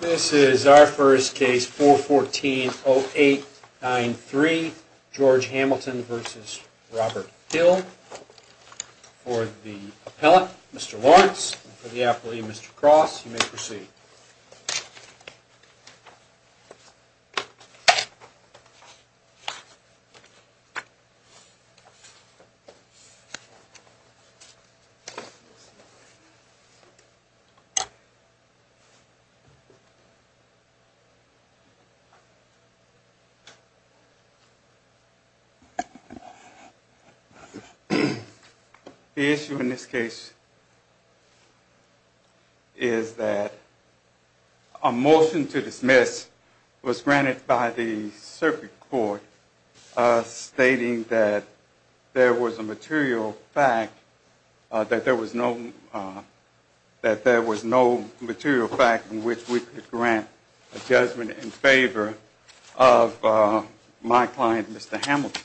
This is our first case, 414-0893, George Hamilton v. Robert Hill. For the appellant, Mr. Lawrence, and for the appellee, Mr. Cross, you may proceed. The issue in this case is that a motion to dismiss was granted by the circuit court stating that there was no material fact in which we could grant a judgment in favor of my client, Mr. Hamilton.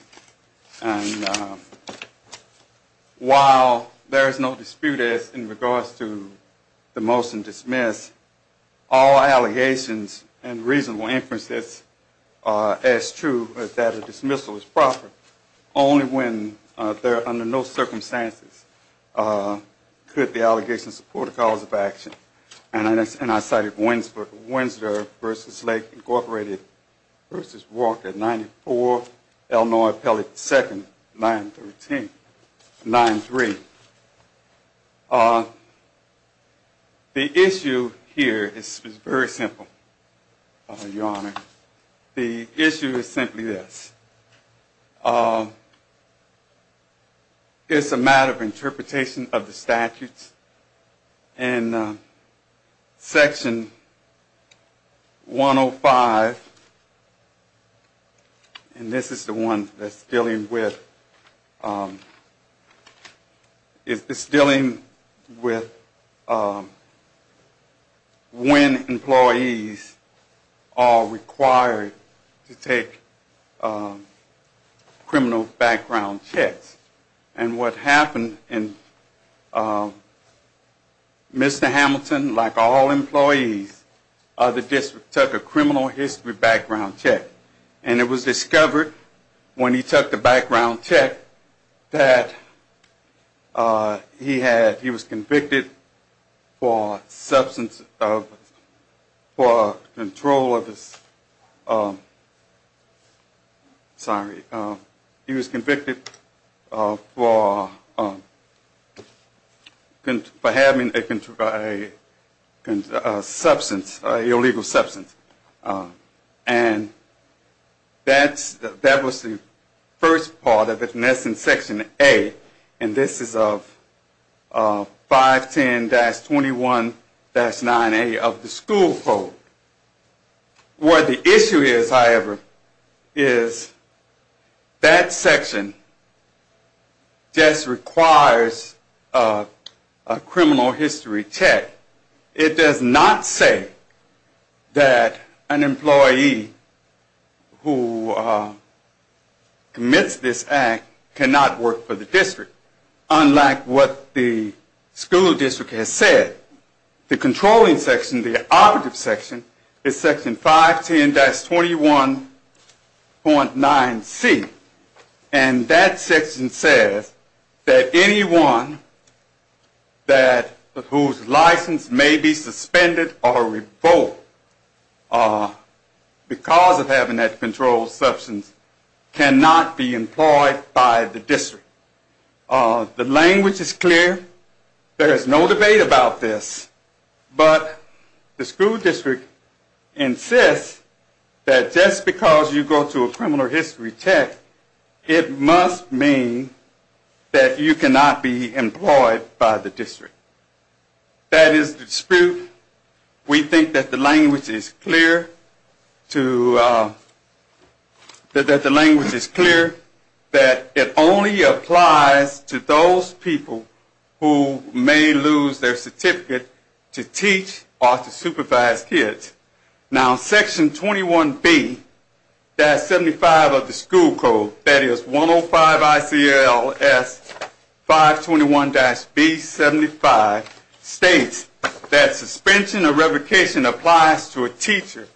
While there is no dispute in regards to the motion dismissed, all allegations and reasonable inferences as true is that a dismissal is proper only when, under no circumstances, could the allegations support a cause of action. And I cited Winsor v. Lake Incorporated v. Walker, 94, Illinois Appellate 2nd, 913-93. The issue here is very simple, Your Honor. The issue is simply this. It's a matter of interpretation of the statutes. And Section 105, and this is the one that's dealing with, is dealing with when employees are required to take criminal background checks. And what happened in Mr. Hamilton, like all employees, took a criminal history background check. And it was discovered when he took the background check that he had, he was convicted for substance, for control of his, sorry. He was convicted for having a substance, an illegal substance. And that was the first part of it, and that's in Section A. And this is of 510-21-9A of the school code. Where the issue is, however, is that section just requires a criminal history check. It does not say that an employee who commits this act cannot work for the district, unlike what the school district has said. The controlling section, the operative section, is Section 510-21.9C. And that section says that anyone whose license may be suspended or revoked because of having that controlled substance cannot be employed by the district. The language is clear. There is no debate about this, but the school district insists that just because you go to a criminal history check, it must mean that you cannot be employed by the district. That is the dispute. We think that the language is clear, that it only applies to those people who may lose their certificate to teach or to supervise kids. Now, Section 21B-75 of the school code, that is 105-ICLS-521-B75, states that suspension or revocation applies to a teacher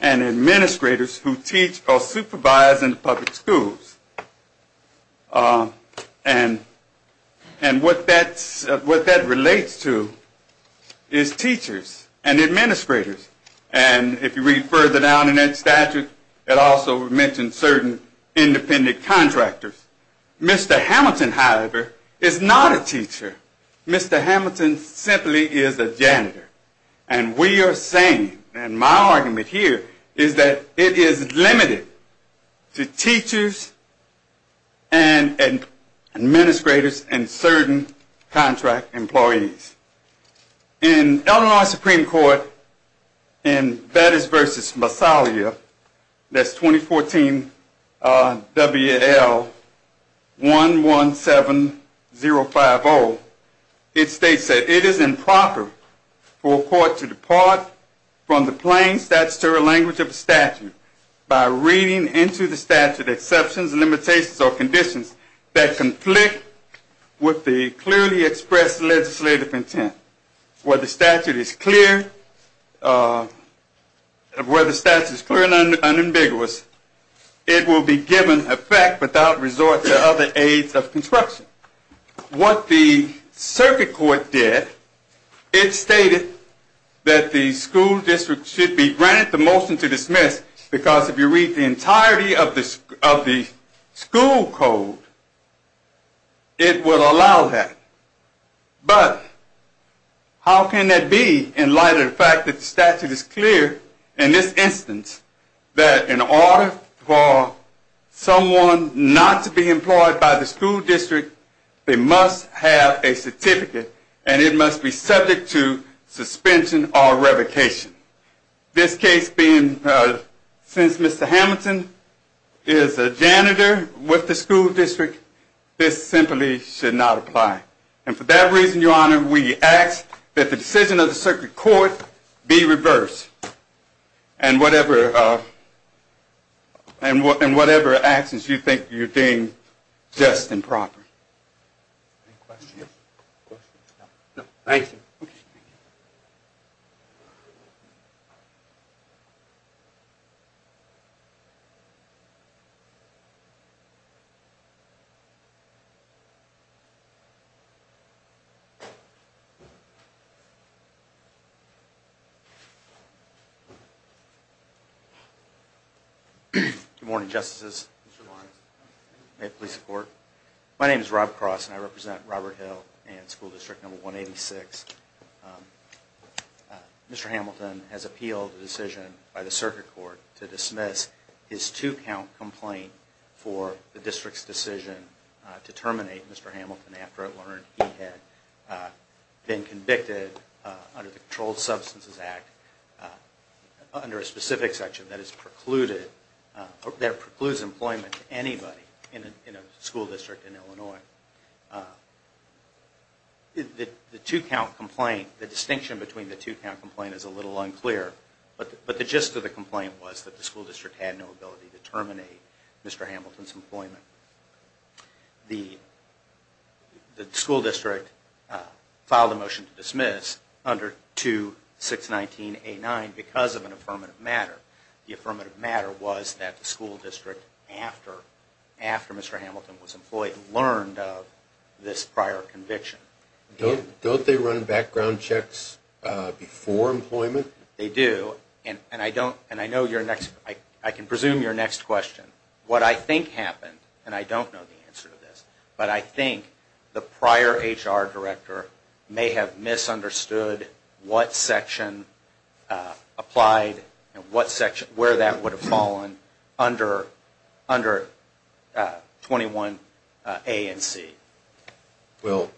and administrators who teach or supervise in public schools. And what that relates to is teachers and administrators. And if you read further down in that statute, it also mentions certain independent contractors. Mr. Hamilton, however, is not a teacher. Mr. Hamilton simply is a janitor. And we are saying, and my argument here is that it is limited to teachers and administrators and certain contract employees. In Elmhurst Supreme Court in Batis v. Massalia, that's 2014 WL117050, it states that it is improper for a court to depart from the plain statutory language of a statute by reading into the statute with exceptions, limitations, or conditions that conflict with the clearly expressed legislative intent. Where the statute is clear and unambiguous, it will be given effect without resort to other aids of construction. Now, what the circuit court did, it stated that the school district should be granted the motion to dismiss because if you read the entirety of the school code, it will allow that. But how can that be in light of the fact that the statute is clear in this instance that in order for someone not to be employed by the school district, they must have a certificate and it must be subject to suspension or revocation. This case being, since Mr. Hamilton is a janitor with the school district, this simply should not apply. And for that reason, your honor, we ask that the decision of the circuit court be reversed. And whatever actions you think you're doing, just and proper. Any questions? Questions? No. Thank you. Good morning, justices. May it please the court. My name is Rob Cross and I represent Robert Hill and school district number 186. Mr. Hamilton has appealed the decision by the circuit court to dismiss his two count complaint for the district's decision to terminate Mr. Hamilton after it learned he had been convicted under the Controlled Substances Act. Under a specific section that precludes employment to anybody in a school district in Illinois. The distinction between the two count complaint is a little unclear, but the gist of the complaint was that the school district had no ability to terminate Mr. Hamilton's employment. The school district filed a motion to dismiss under 2-619-89 because of an affirmative matter. The affirmative matter was that the school district, after Mr. Hamilton was employed, learned of this prior conviction. Don't they run background checks before employment? They do, and I can presume your next question. What I think happened, and I don't know the answer to this, but I think the prior HR director may have misunderstood what section applied and where that would have fallen under 21A and C. Well,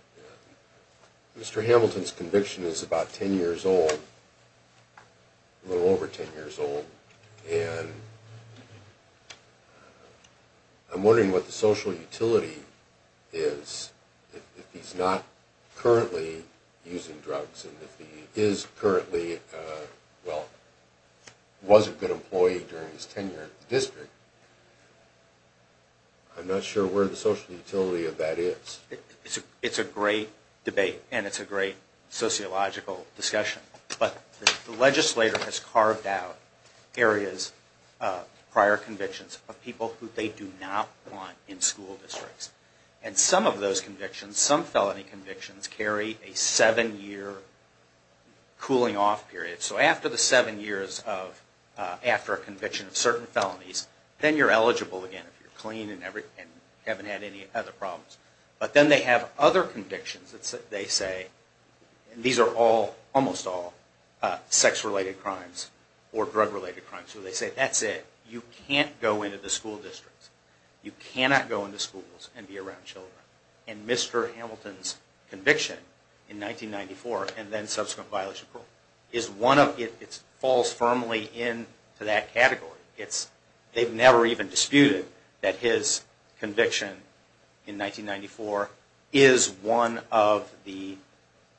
Mr. Hamilton's conviction is about 10 years old, a little over 10 years old, and I'm wondering what the social utility is if he's not currently using drugs. It's a great debate, and it's a great sociological discussion, but the legislator has carved out areas, prior convictions, of people who they do not want in school districts. And some of those convictions, some felony convictions, carry a 7-year cooling off period. So after the 7 years after a conviction of certain felonies, then you're eligible again if you're clean and haven't had any other problems. But then they have other convictions that they say, and these are all, almost all, sex-related crimes or drug-related crimes. So they say, that's it, you can't go into the school districts. You cannot go into schools and be around children. And Mr. Hamilton's conviction in 1994, and then subsequent violation of parole, falls firmly into that category. They've never even disputed that his conviction in 1994 is one of the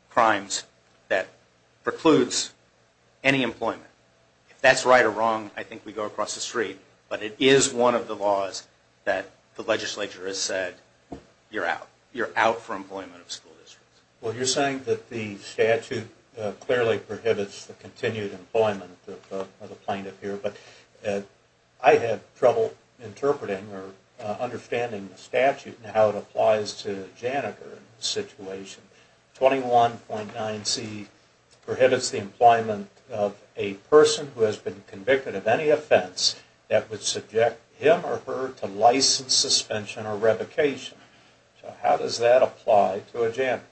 crimes that precludes any employment. If that's right or wrong, I think we go across the street. But it is one of the laws that the legislature has said, you're out. You're out for employment of school districts. Well, you're saying that the statute clearly prohibits the continued employment of a plaintiff here. But I had trouble interpreting or understanding the statute and how it applies to a janitor in this situation. 21.9C prohibits the employment of a person who has been convicted of any offense that would subject him or her to license suspension or revocation. So how does that apply to a janitor?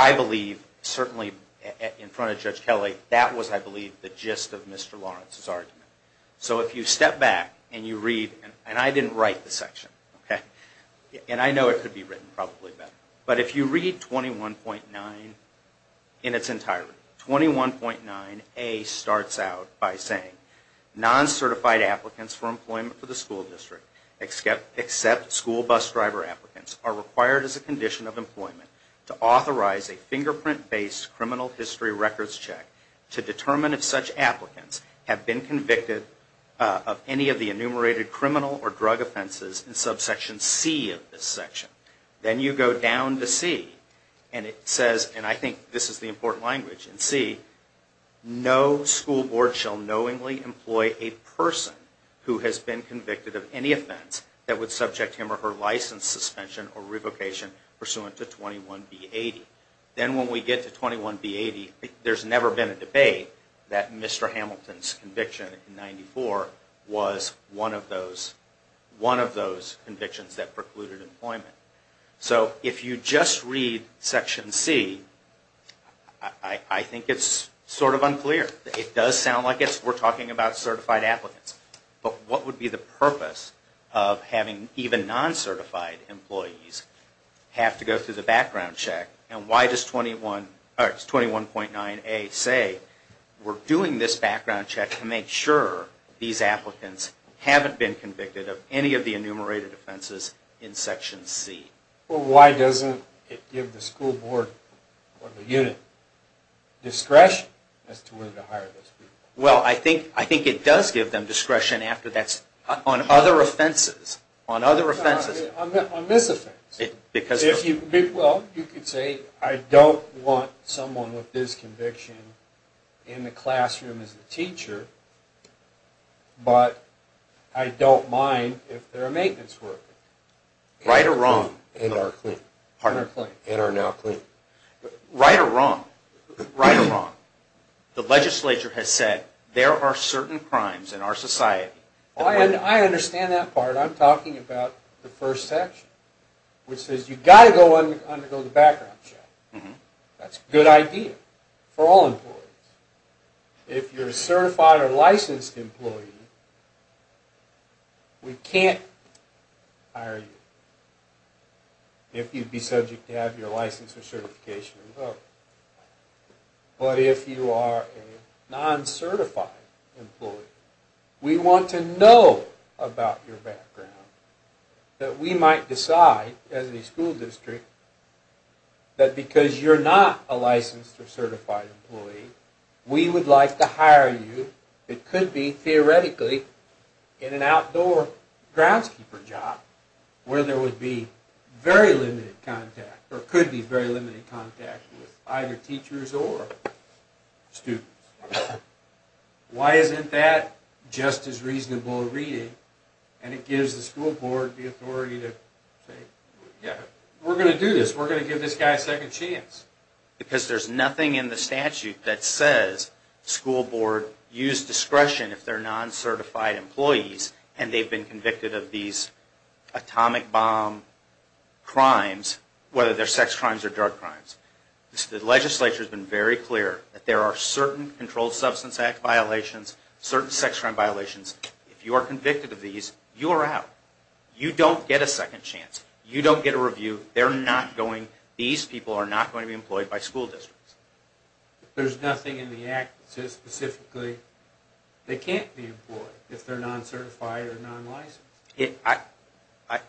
I believe, certainly in front of Judge Kelly, that was, I believe, the gist of Mr. Lawrence's argument. So if you step back and you read, and I didn't write the section, and I know it could be written probably better. But if you read 21.9 in its entirety, 21.9A starts out by saying, Non-certified applicants for employment for the school district, except school bus driver applicants, are required as a condition of employment to authorize a fingerprint-based criminal history records check to determine if such applicants have been convicted of any of the enumerated criminal or drug offenses in subsection C of this section. Then you go down to C and it says, and I think this is the important language in C, No school board shall knowingly employ a person who has been convicted of any offense that would subject him or her license suspension or revocation pursuant to 21B80. Then when we get to 21B80, there's never been a debate that Mr. Hamilton's conviction in 94 was one of those convictions that precluded employment. So if you just read section C, I think it's sort of unclear. It does sound like we're talking about certified applicants. But what would be the purpose of having even non-certified employees have to go through the background check? And why does 21.9A say we're doing this background check to make sure these applicants haven't been convicted of any of the enumerated offenses in section C? Well, why doesn't it give the school board or the unit discretion as to whether to hire those people? Well, I think it does give them discretion on other offenses. On misoffense. Well, you could say I don't want someone with this conviction in the classroom as a teacher, but I don't mind if they're a maintenance worker. Right or wrong? In our claim. Pardon? In our now claim. Right or wrong? Right or wrong? The legislature has said there are certain crimes in our society. I understand that part. I'm talking about the first section, which says you've got to undergo the background check. That's a good idea for all employees. If you're a certified or licensed employee, we can't hire you if you'd be subject to have your license or certification invoked. But if you are a non-certified employee, we want to know about your background. We might decide, as a school district, that because you're not a licensed or certified employee, we would like to hire you. It could be, theoretically, in an outdoor groundskeeper job, where there could be very limited contact with either teachers or students. Why isn't that just as reasonable a reading? And it gives the school board the authority to say, yeah, we're going to do this. We're going to give this guy a second chance. Because there's nothing in the statute that says school board use discretion if they're non-certified employees, and they've been convicted of these atomic bomb crimes, whether they're sex crimes or drug crimes. The legislature has been very clear that there are certain Controlled Substance Act violations, certain sex crime violations. If you are convicted of these, you are out. You don't get a second chance. You don't get a review. These people are not going to be employed by school districts. There's nothing in the Act that says specifically they can't be employed if they're non-certified or non-licensed.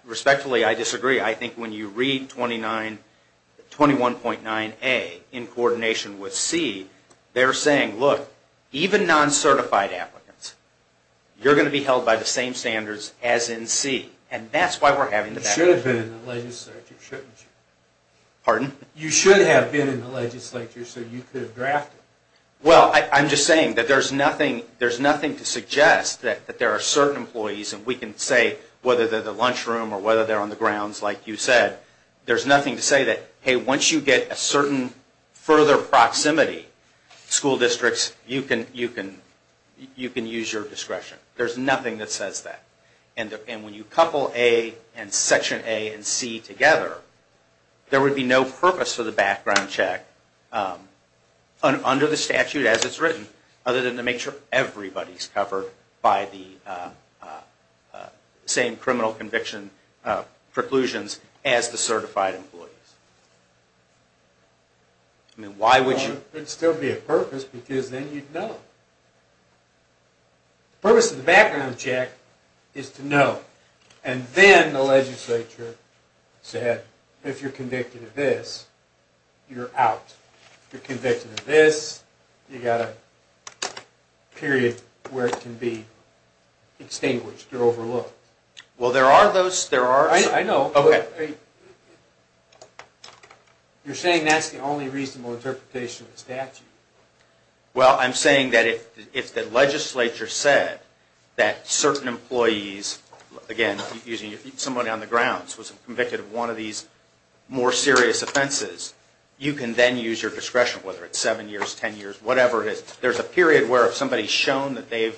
Respectfully, I disagree. I think when you read 21.9A in coordination with C, they're saying, look, even non-certified applicants, you're going to be held by the same standards as in C. You should have been in the legislature, shouldn't you? Pardon? You should have been in the legislature so you could have drafted it. Well, I'm just saying that there's nothing to suggest that there are certain employees, and we can say whether they're in the lunchroom or whether they're on the grounds like you said. There's nothing to say that, hey, once you get a certain further proximity, school districts, you can use your discretion. There's nothing that says that. And when you couple A and Section A and C together, there would be no purpose for the background check under the statute as it's written other than to make sure everybody's covered by the same criminal conviction preclusions as the certified employees. Why would you? There'd still be a purpose because then you'd know. The purpose of the background check is to know. And then the legislature said, if you're convicted of this, you're out. If you're convicted of this, you've got a period where it can be extinguished or overlooked. Well, there are those, there are some. I know. Well, I'm saying that if the legislature said that certain employees, again, if somebody on the grounds was convicted of one of these more serious offenses, you can then use your discretion, whether it's seven years, ten years, whatever it is. There's a period where if somebody's shown that they've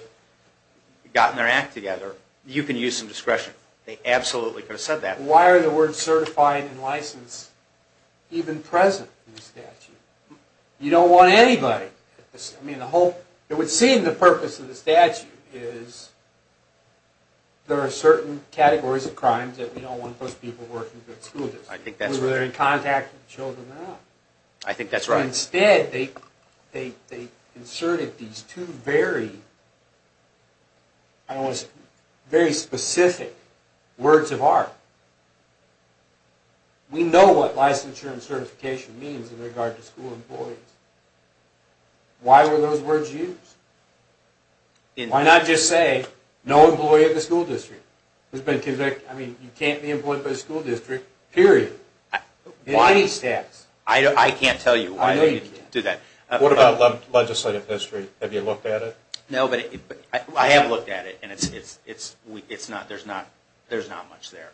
gotten their act together, you can use some discretion. They absolutely could have said that. You don't want anybody. I mean, the whole, it would seem the purpose of the statute is there are certain categories of crimes that we don't want those people working for the school district. I think that's right. Whether they're in contact with children or not. I think that's right. Instead, they inserted these two very, I don't want to say, very specific words of art. We know what licensure and certification means in regard to school employees. Why were those words used? Why not just say, no employee of the school district who's been convicted, I mean, you can't be employed by the school district, period. Why these stats? I can't tell you why they do that. What about legislative history? Have you looked at it? No, but I have looked at it. There's not much there.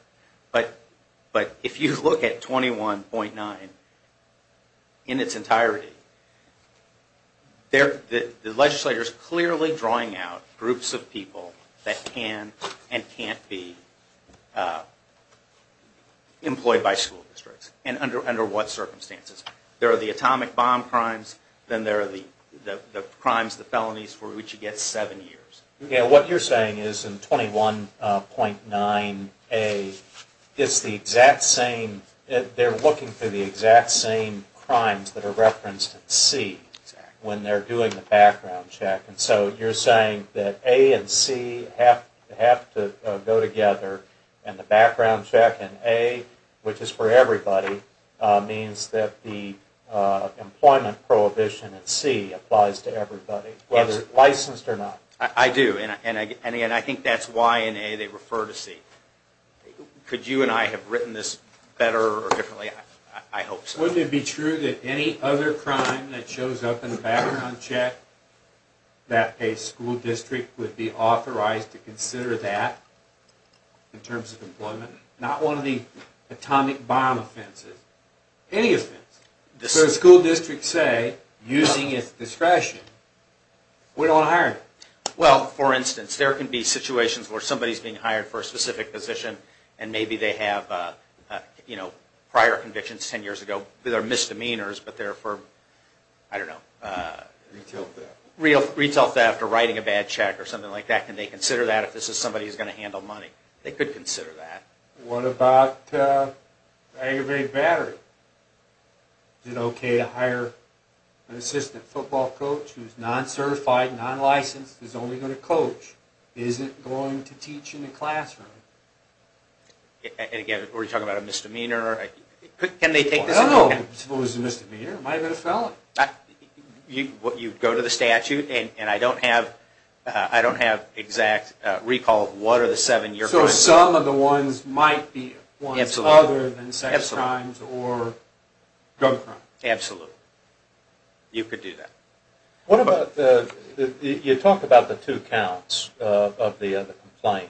But if you look at 21.9 in its entirety, the legislature is clearly drawing out groups of people that can and can't be employed by school districts. And under what circumstances? There are the atomic bomb crimes, then there are the crimes, the felonies for which you get seven years. What you're saying is in 21.9A, it's the exact same, they're looking for the exact same crimes that are referenced in C when they're doing the background check. And so you're saying that A and C have to go together, and the background check in A, which is for everybody, means that the employment prohibition in C applies to everybody, whether it's licensed or not. I do, and again, I think that's why in A they refer to C. Could you and I have written this better or differently? I hope so. Wouldn't it be true that any other crime that shows up in the background check, that a school district would be authorized to consider that in terms of employment? Not one of the atomic bomb offenses. Any offense. So a school district, say, using its discretion, we don't want to hire them. Well, for instance, there can be situations where somebody is being hired for a specific position and maybe they have prior convictions ten years ago. They're misdemeanors, but they're for, I don't know, retail theft or writing a bad check or something like that. Can they consider that if this is somebody who's going to handle money? They could consider that. What about aggravated battery? Is it okay to hire an assistant football coach who's non-certified, non-licensed, is only going to coach, isn't going to teach in the classroom? And again, are we talking about a misdemeanor? No. I suppose it's a misdemeanor. It might have been a felon. You go to the statute, and I don't have exact recall of what are the seven year convictions. So some of the ones might be ones other than sex crimes or drug crimes. Absolutely. You could do that. What about the, you talk about the two counts of the complaint,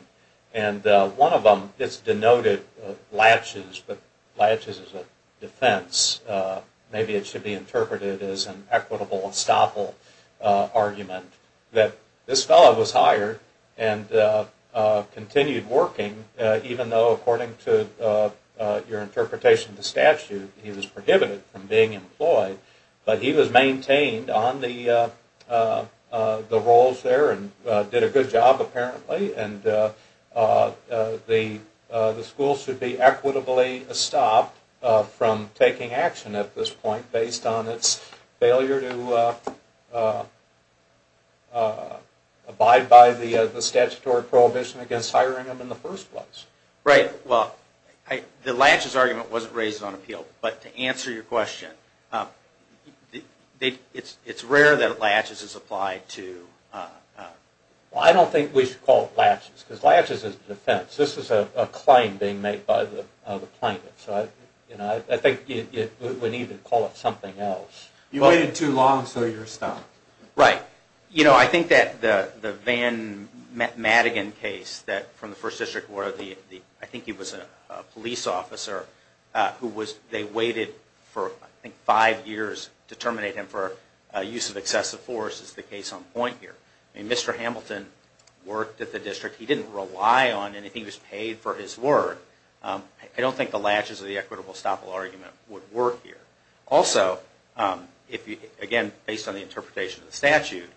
and one of them is denoted laches, but laches is a defense. Maybe it should be interpreted as an equitable estoppel argument that this fellow was hired and continued working even though, according to your interpretation of the statute, he was prohibited from being employed. But he was maintained on the roles there and did a good job apparently, and the school should be equitably stopped from taking action at this point based on its failure to abide by the statutory prohibition against hiring him in the first place. Right. Well, the laches argument wasn't raised on appeal, but to answer your question, it's rare that laches is applied to. Well, I don't think we should call it laches because laches is a defense. This is a claim being made by the plaintiff, so I think we need to call it something else. You waited too long, so you're stopped. Right. You know, I think that the Van Madigan case from the First District where the, I think he was a police officer who was, they waited for, I think, five years to terminate him for use of excessive force is the case on point here. I mean, Mr. Hamilton worked at the district. He didn't rely on anything. He was paid for his work. I don't think the laches or the equitable estoppel argument would work here. Also, again, based on the interpretation of the statute,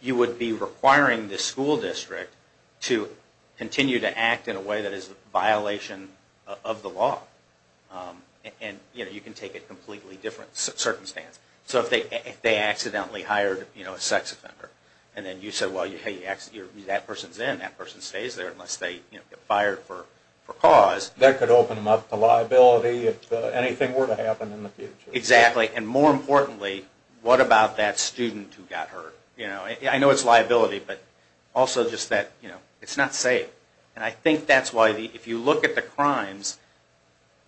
you would be requiring the school district to continue to act in a way that is a violation of the law. And, you know, you can take a completely different circumstance. So if they accidentally hired, you know, a sex offender, and then you said, well, hey, that person's in. That person stays there unless they, you know, get fired for cause. That could open them up to liability if anything were to happen in the future. Exactly. And more importantly, what about that student who got hurt? You know, I know it's liability, but also just that, you know, it's not safe. And I think that's why if you look at the crimes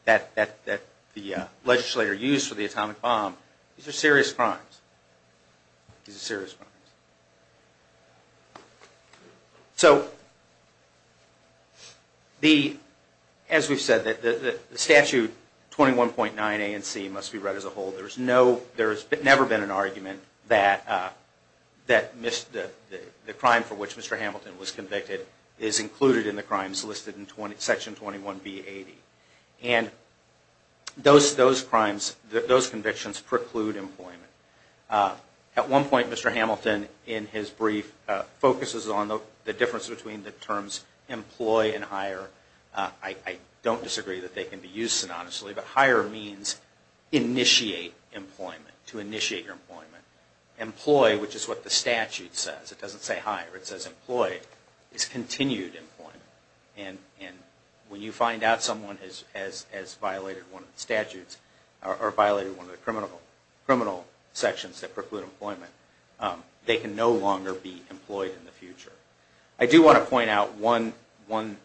that the legislator used for the atomic bomb, these are serious crimes. These are serious crimes. So as we've said, the statute 21.9 A and C must be read as a whole. There has never been an argument that the crime for which Mr. Hamilton was convicted is included in the crimes listed in Section 21B80. And those crimes, those convictions preclude employment. At one point, Mr. Hamilton, in his brief, focuses on the difference between the terms employ and hire. I don't disagree that they can be used synonymously, but hire means initiate employment, to initiate your employment. Employ, which is what the statute says. It doesn't say hire. It says employ. It's continued employment. And when you find out someone has violated one of the statutes or violated one of the criminal sections that preclude employment, they can no longer be employed in the future. I do want to point out one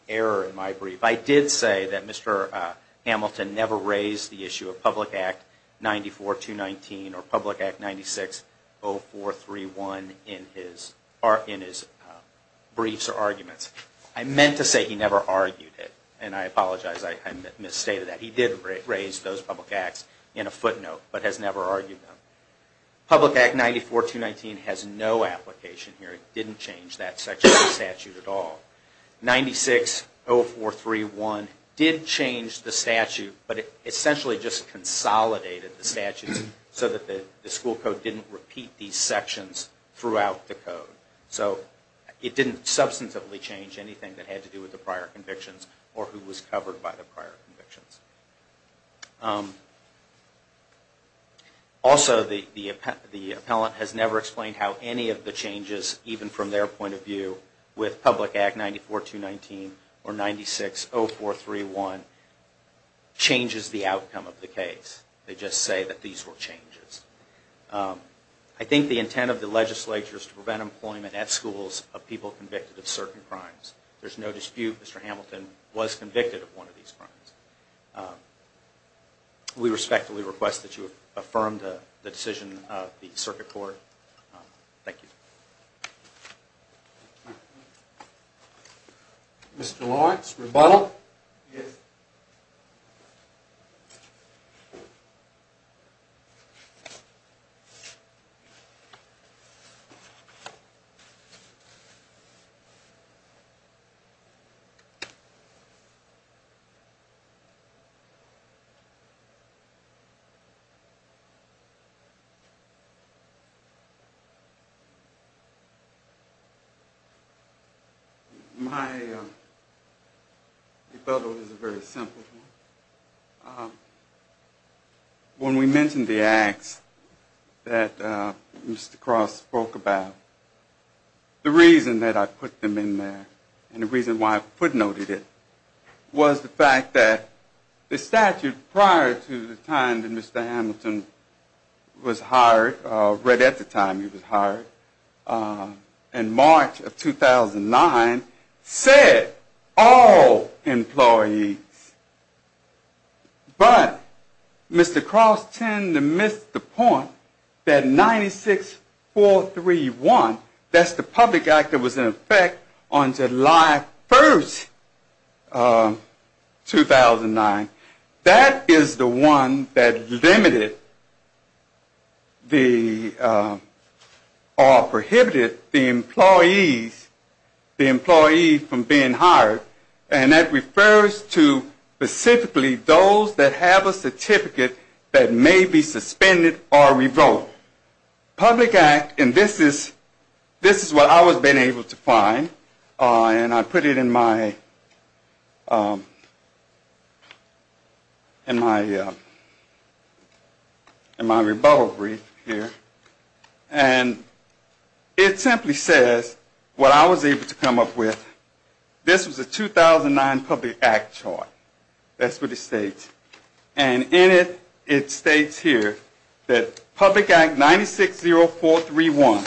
error in my brief. I did say that Mr. Hamilton never raised the issue of Public Act 94-219 or Public Act 96-0431 in his briefs or arguments. I meant to say he never argued it, and I apologize. I misstated that. He did raise those public acts in a footnote, but has never argued them. Public Act 94-219 has no application here. It didn't change that section of the statute at all. 96-0431 did change the statute, but it essentially just consolidated the statutes so that the school code didn't repeat these sections throughout the code. So it didn't substantively change anything that had to do with the prior convictions. Also, the appellant has never explained how any of the changes, even from their point of view, with Public Act 94-219 or 96-0431, changes the outcome of the case. They just say that these were changes. I think the intent of the legislature is to prevent employment at schools of people convicted of certain crimes. There's no dispute Mr. Hamilton was convicted of one of these crimes. We respectfully request that you affirm the decision of the circuit court. Thank you. Mr. Lawrence, rebuttal. Yes. My rebuttal is a very simple one. When we mentioned the acts that Mr. Cross spoke about, the reason that I put them in there and the reason why I footnoted it was the fact that the statute prior to the time that Mr. Hamilton was hired, right at the time he was hired, in March of 2009, said all employees. But Mr. Cross tended to miss the point that 96-431, that's the public act that was in effect on July 1st, 2009, that is the one that limited or prohibited the employees from being hired. And that refers to specifically those that have a certificate that may be suspended or revoked. So public act, and this is what I was able to find, and I put it in my rebuttal brief here. And it simply says what I was able to come up with. This was a 2009 public act chart. That's what it states. And in it, it states here that public act 960431,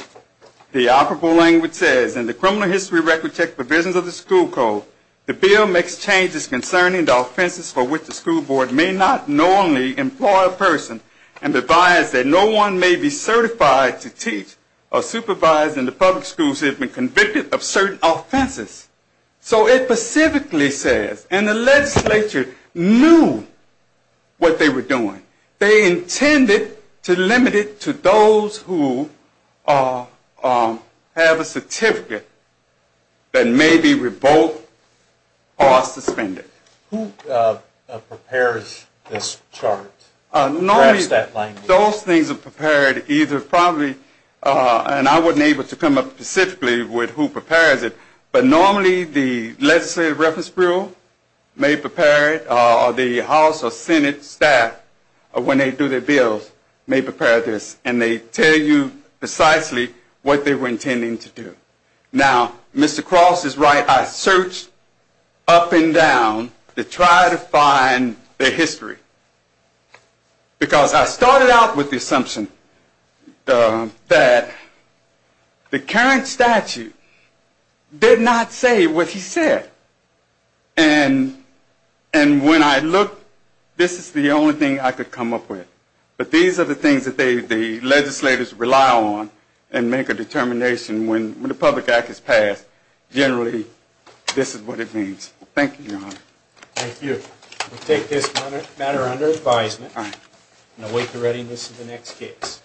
the operable language says, in the criminal history record check provisions of the school code, the bill makes changes concerning the offenses for which the school board may not normally employ a person and provides that no one may be certified to teach or supervise in the public schools if they've been convicted of certain offenses. So it specifically says, and the legislature knew what they were doing. They intended to limit it to those who have a certificate that may be revoked or suspended. Who prepares this chart? Normally those things are prepared either probably, and I wasn't able to come up specifically with who prepares it, but normally the legislative reference bureau may prepare it, or the House or Senate staff, when they do their bills, may prepare this. And they tell you precisely what they were intending to do. Now, Mr. Cross is right. I searched up and down to try to find the history. Because I started out with the assumption that the current statute did not say what he said. And when I looked, this is the only thing I could come up with. But these are the things that the legislators rely on and make a determination when the public act is passed. Generally, this is what it means. Thank you, Your Honor. Thank you. We'll take this matter under advisement and await the readiness of the next case.